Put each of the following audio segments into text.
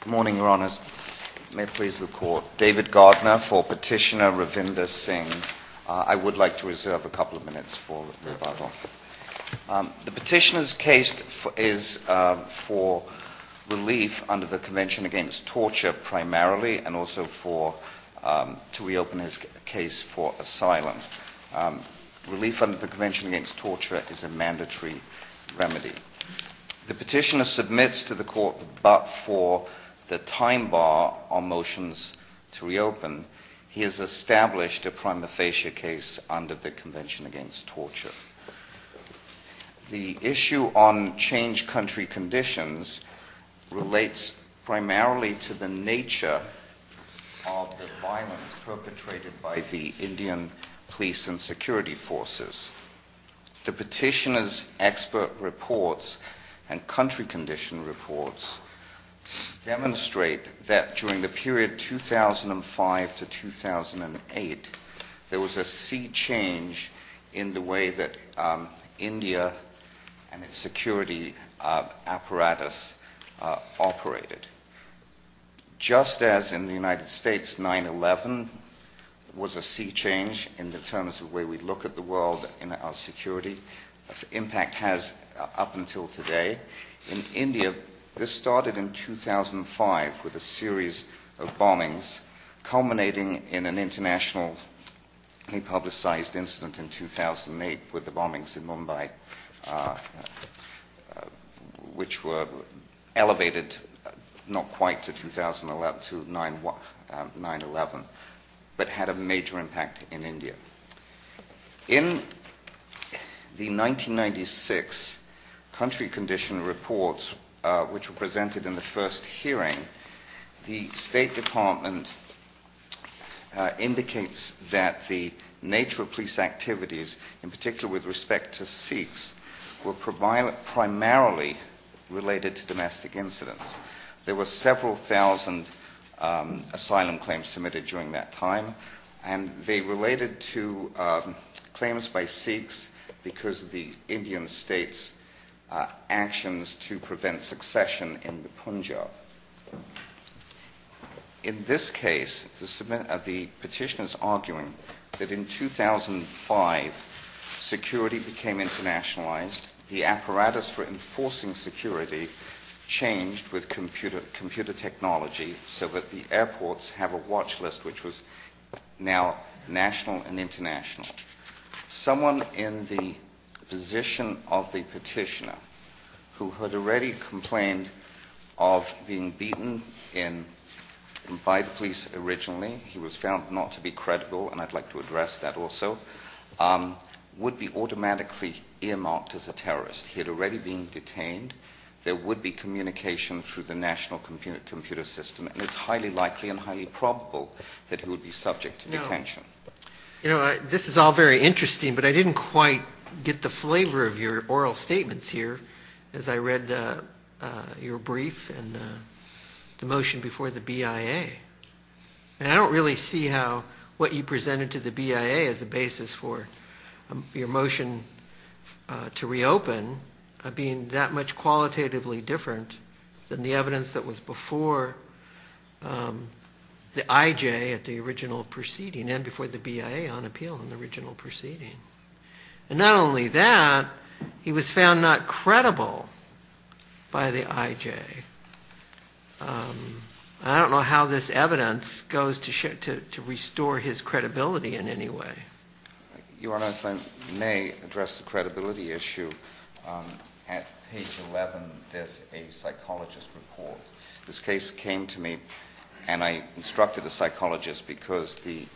Good morning, Your Honors. May it please the Court. David Gardner for Petitioner Ravinder Singh. I would like to reserve a couple of minutes for rebuttal. The Petitioner's case is for relief under the Convention Against Torture primarily, and also to reopen his case for asylum. Relief under the Convention Against Torture is a mandatory remedy. The Petitioner submits to the Court, but for the time bar on motions to reopen, he has established a prima facie case under the Convention Against Torture. The issue on changed country conditions relates primarily to the nature of the violence perpetrated by the Indian police and security forces. The Petitioner's expert reports and country condition reports demonstrate that during the period 2005 to 2008, there was a sea change in the way that India and its security apparatus operated. Just as in the United States, 9-11 was a sea change in the terms of the way we look at the world and our security, the impact has up until today. In India, this started in 2005 with a series of bombings, culminating in an internationally publicized incident in 2008 with the bombings in Mumbai, which were elevated not quite to 9-11, but had a major impact in India. In the 1996 country condition reports, which were presented in the first hearing, the State Department indicates that the nature of police activities, in particular with respect to Sikhs, were primarily related to domestic incidents. There were several thousand asylum claims submitted during that time, and they related to claims by Sikhs because of the Indian state's actions to prevent succession in the Punjab. In this case, the Petitioner is arguing that in 2005, security became internationalized, the apparatus for enforcing security changed with computer technology so that the airports have a watch list which was now national and international. Someone in the position of the Petitioner who had already complained of being beaten by the police originally, he was found not to be credible, and I'd like to address that also, would be automatically earmarked as a terrorist. He had already been detained. There would be communication through the national computer system, and it's highly likely and highly probable that he would be subject to detention. You know, this is all very interesting, but I didn't quite get the flavor of your oral statements here as I read your brief and the motion before the BIA. And I don't really see how what you presented to the BIA as a basis for your motion to reopen being that much qualitatively different than the evidence that was before the IJ at the original proceeding and before the BIA on appeal in the original proceeding. And not only that, he was found not credible by the IJ. I don't know how this evidence goes to restore his credibility in any way. Your Honor, if I may address the credibility issue, at page 11 there's a psychologist report. This case came to me, and I instructed a psychologist because the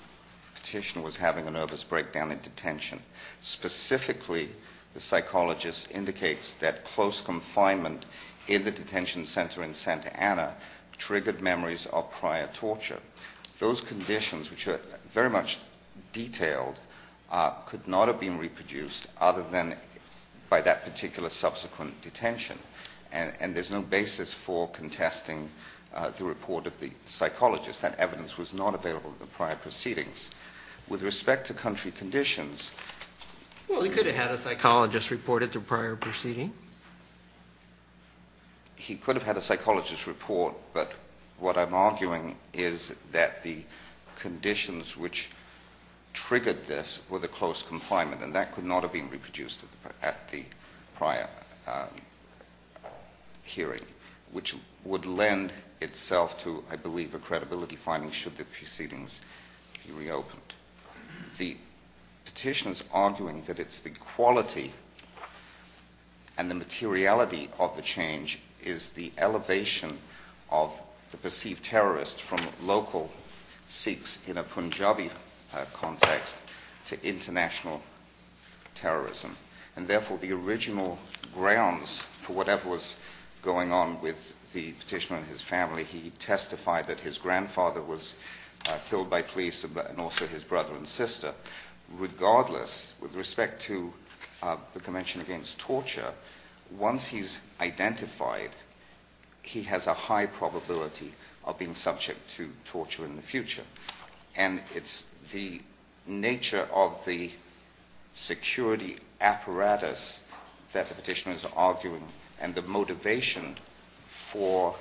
Petitioner was having a nervous breakdown in detention. Specifically, the psychologist indicates that close confinement in the detention center in Santa Ana triggered memories of prior torture. Those conditions, which are very much detailed, could not have been reproduced other than by that particular subsequent detention. And there's no basis for contesting the report of the psychologist. That evidence was not available in the prior proceedings. With respect to country conditions... Well, he could have had a psychologist report it through prior proceeding. He could have had a psychologist report, but what I'm arguing is that the conditions which triggered this were the close confinement, and that could not have been reproduced at the prior hearing, which would lend itself to, I believe, a credibility finding should the proceedings be reopened. The Petitioner's arguing that it's the quality and the materiality of the change is the elevation of the perceived terrorist from local Sikhs in a Punjabi context to international terrorism. And therefore, the original grounds for whatever was going on with the Petitioner and his family, he testified that his grandfather was killed by police and also his brother and sister. Regardless, with respect to the Convention Against Torture, once he's identified, he has a high probability of being subject to torture in the future. And it's the nature of the security apparatus that the Petitioner is arguing and the motivation for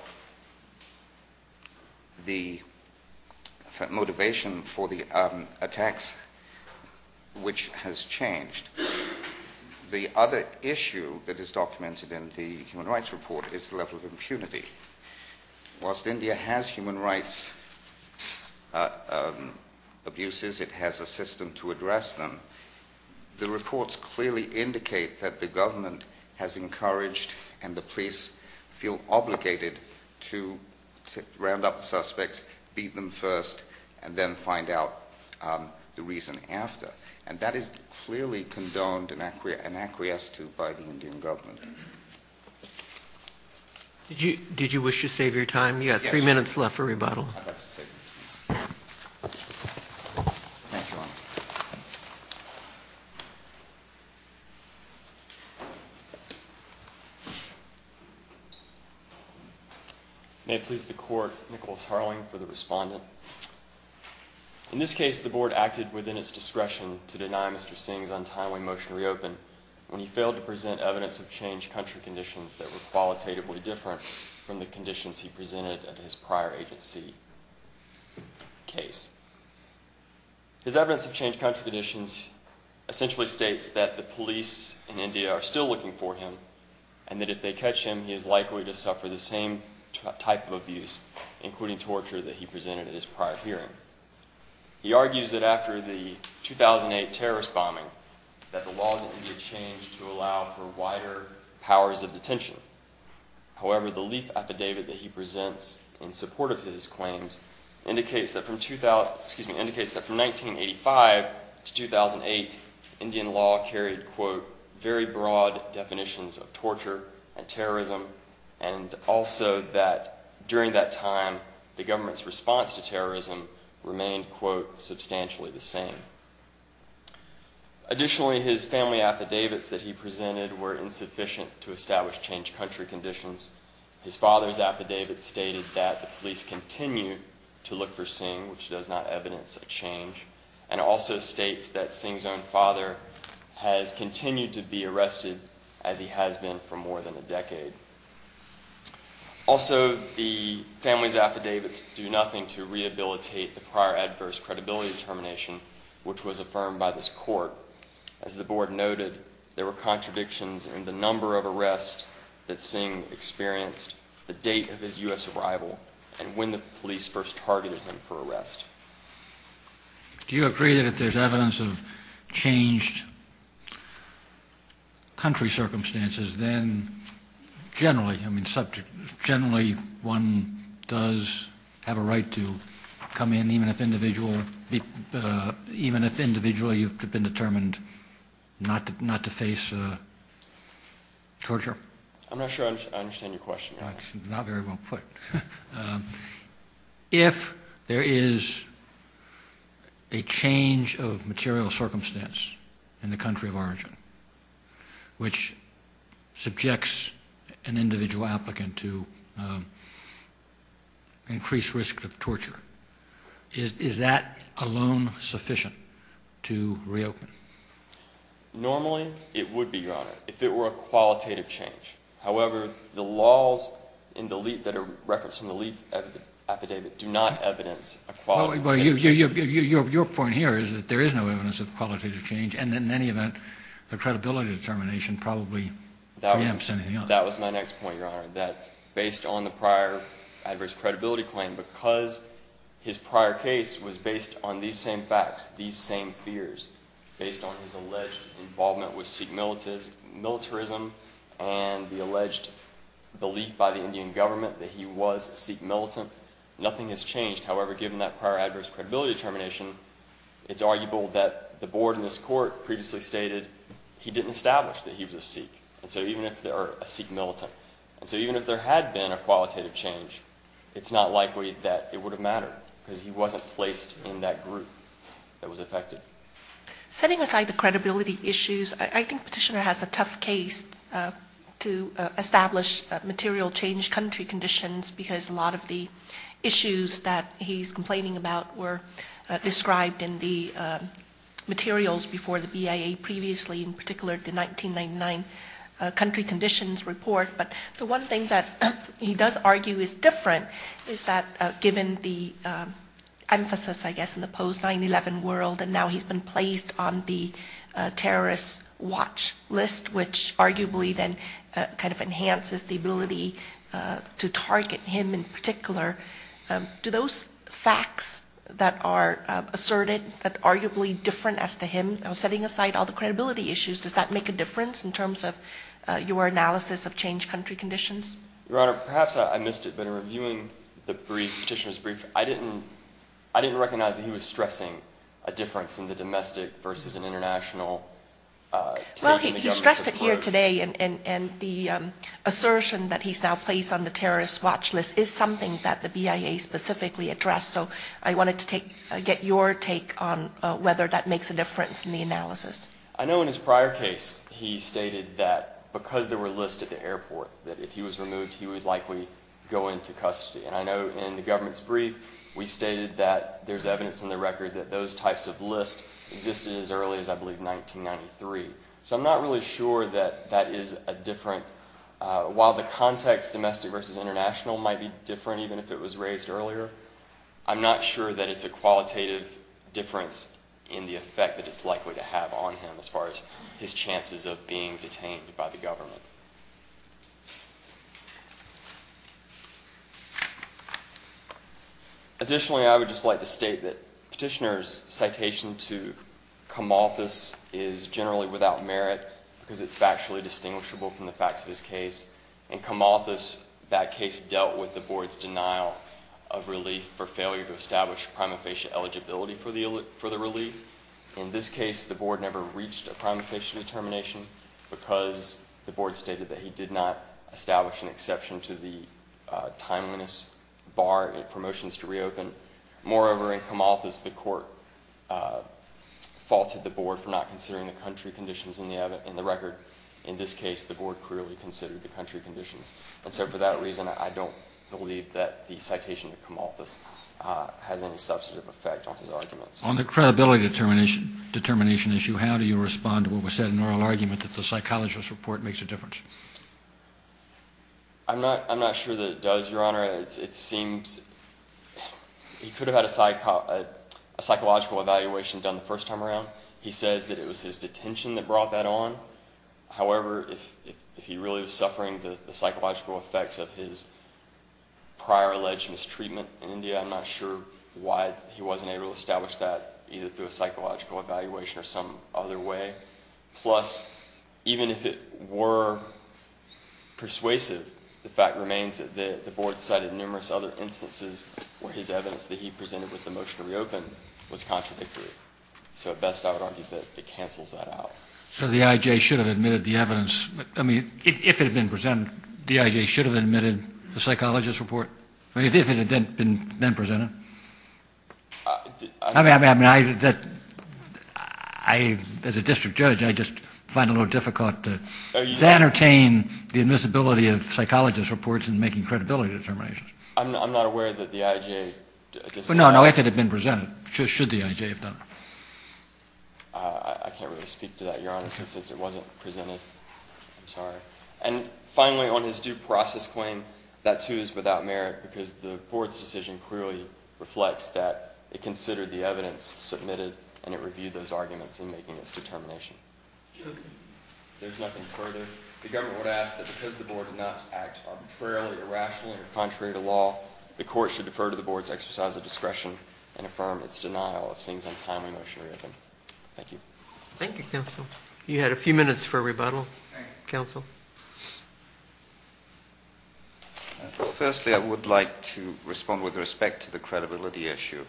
the attacks which has changed. The other issue that is documented in the Human Rights Report is the level of impunity. Whilst India has human rights abuses, it has a system to address them. The reports clearly indicate that the government has encouraged and the police feel obligated to round up the suspects, beat them first, and then find out the reason after. And that is clearly condoned and acquiesced to by the Indian government. Did you wish to save your time? You have three minutes left for rebuttal. May it please the Court, Nicholas Harling for the respondent. In this case, the Board acted within its discretion to deny Mr. Singh's untimely motion to reopen when he failed to present evidence of changed country conditions that were qualitatively different from the conditions he presented at his prior agency case. His evidence of changed country conditions essentially states that the police in India are still looking for him and that if they catch him, he is likely to suffer the same type of abuse, including torture, that he presented at his prior hearing. He argues that after the 2008 terrorist bombing, that the laws in India changed to allow for wider powers of detention. However, the leaf affidavit that he presents in support of his claims indicates that from 1985 to 2008, Indian law carried, quote, very broad definitions of torture and terrorism, and also that during that time, the government's response to terrorism remained, quote, substantially the same. Additionally, his family affidavits that he presented were insufficient to establish changed country conditions. His father's affidavit stated that the police continue to look for Singh, which does not evidence a change, and also states that Singh's own father has continued to be arrested, as he has been, for more than a decade. Also, the family's affidavits do nothing to rehabilitate the prior adverse credibility determination, which was affirmed by this court. As the board noted, there were contradictions in the number of arrests that Singh experienced, the date of his U.S. arrival, and when the police first targeted him for arrest. Do you agree that if there's evidence of changed country circumstances, then generally, I mean, generally one does have a right to come in, even if individually you've been determined not to face torture? I'm not sure I understand your question. It's not very well put. If there is a change of material circumstance in the country of origin which subjects an individual applicant to increased risk of torture, is that alone sufficient to reopen? Normally, it would be, Your Honor, if it were a qualitative change. However, the laws in the leaf that are referenced in the leaf affidavit do not evidence a qualitative change. Your point here is that there is no evidence of qualitative change, and in any event, the credibility determination probably preempts anything else. That was my next point, Your Honor, that based on the prior adverse credibility claim, because his prior case was based on these same facts, these same fears, based on his alleged involvement with Sikh militarism and the alleged belief by the Indian government that he was a Sikh militant, nothing has changed. And so even if there had been a qualitative change, it's not likely that it would have mattered, because he wasn't placed in that group that was affected. Setting aside the credibility issues, I think Petitioner has a tough case to establish material change country conditions, because a lot of the issues that he's complaining about were described in the materials before the BIA previously, in particular the 1999 country conditions report. But the one thing that he does argue is different is that given the emphasis, I guess, in the post-9-11 world, and now he's been placed on the terrorist watch list, which arguably then kind of enhances the ability to target him in particular. Do those facts that are asserted, that are arguably different as to him, setting aside all the credibility issues, does that make a difference in terms of your analysis of change country conditions? Your Honor, perhaps I missed it, but in reviewing Petitioner's brief, I didn't recognize that he was stressing a difference in the domestic versus an international take on the government's approach. And the assertion that he's now placed on the terrorist watch list is something that the BIA specifically addressed, so I wanted to get your take on whether that makes a difference in the analysis. I know in his prior case, he stated that because there were lists at the airport, that if he was removed, he would likely go into custody. And I know in the government's brief, we stated that there's evidence in the record that those types of lists existed as early as, I believe, 1993. So I'm not really sure that that is a different – while the context, domestic versus international, might be different, even if it was raised earlier, I'm not sure that it's a qualitative difference in the effect that it's likely to have on him as far as his chances of being detained by the government. Additionally, I would just like to state that Petitioner's citation to Camalthus is generally without merit because it's factually distinguishable from the facts of his case. In Camalthus, that case dealt with the Board's denial of relief for failure to establish prima facie eligibility for the relief. In this case, the Board never reached a prima facie determination because the Board stated that he did not establish an exception to the timeliness bar in promotions to reopen. Moreover, in Camalthus, the Court faulted the Board for not considering the country conditions in the record. In this case, the Board clearly considered the country conditions. And so for that reason, I don't believe that the citation to Camalthus has any substantive effect on his arguments. On the credibility determination issue, how do you respond to what was said in oral argument that the psychologist's report makes a difference? I'm not sure that it does, Your Honor. It seems he could have had a psychological evaluation done the first time around. He says that it was his detention that brought that on. However, if he really was suffering the psychological effects of his prior alleged mistreatment in India, I'm not sure why he wasn't able to establish that either through a psychological evaluation or some other way. Plus, even if it were persuasive, the fact remains that the Board cited numerous other instances where his evidence that he presented with the motion to reopen was contradictory. So at best, I would argue that it cancels that out. So the I.J. should have admitted the evidence. I mean, if it had been presented, the I.J. should have admitted the psychologist's report. I mean, if it had then been presented. I mean, I, as a district judge, I just find it a little difficult to entertain the admissibility of psychologist's reports in making credibility determinations. I'm not aware that the I.J. No, no, if it had been presented, should the I.J. have done it. I can't really speak to that, Your Honor, since it wasn't presented. I'm sorry. And finally, on his due process claim, that too is without merit because the Board's decision clearly reflects that it considered the evidence submitted and it reviewed those arguments in making its determination. Okay. There's nothing further. The government would ask that because the Board did not act arbitrarily, irrationally, or contrary to law, the court should defer to the Board's exercise of discretion and affirm its denial of things on time when the motion was reopened. Thank you. Thank you, counsel. You had a few minutes for rebuttal. Thank you. Counsel. Firstly, I would like to respond with respect to the credibility issue.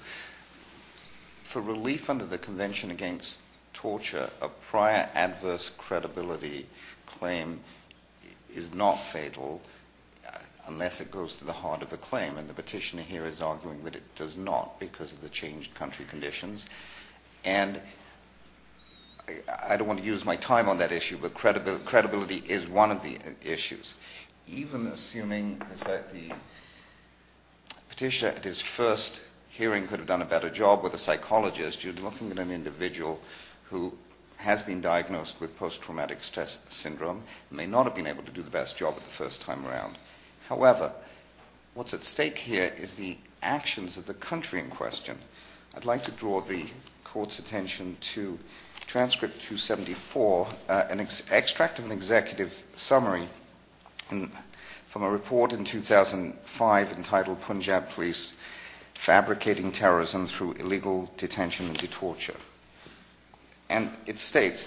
For relief under the Convention Against Torture, a prior adverse credibility claim is not fatal unless it goes to the heart of a claim. And the petitioner here is arguing that it does not because of the changed country conditions. And I don't want to use my time on that issue, but credibility is one of the issues. Even assuming that the petitioner at his first hearing could have done a better job with a psychologist, you're looking at an individual who has been diagnosed with post-traumatic stress syndrome and may not have been able to do the best job the first time around. However, what's at stake here is the actions of the country in question. I'd like to draw the court's attention to transcript 274, an extract of an executive summary from a report in 2005 entitled Punjab Police Fabricating Terrorism Through Illegal Detention and Torture. And it states, Thus,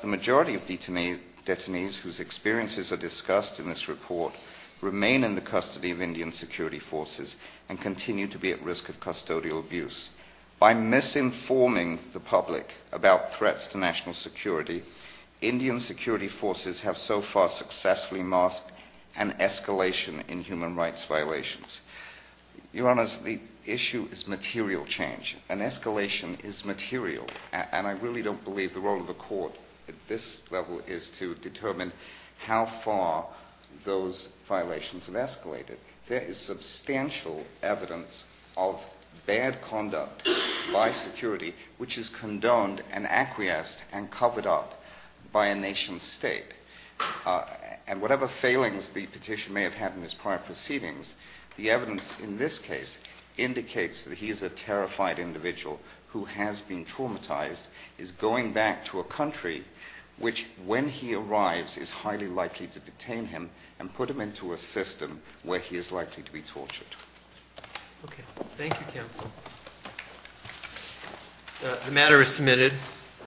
the majority of detainees whose experiences are discussed in this report remain in the custody of Indian security forces and continue to be at risk of custodial abuse. By misinforming the public about threats to national security, Indian security forces have so far successfully masked an escalation in human rights violations. Your Honor, the issue is material change. An escalation is material. And I really don't believe the role of the court at this level is to determine how far those violations have escalated. There is substantial evidence of bad conduct by security, which is condoned and acquiesced and covered up by a nation state. And whatever failings the petition may have had in his prior proceedings, the evidence in this case indicates that he is a terrified individual who has been traumatized, is going back to a country which, when he arrives, is highly likely to detain him and put him into a system where he is likely to be tortured. Okay. Thank you, counsel. The matter is submitted.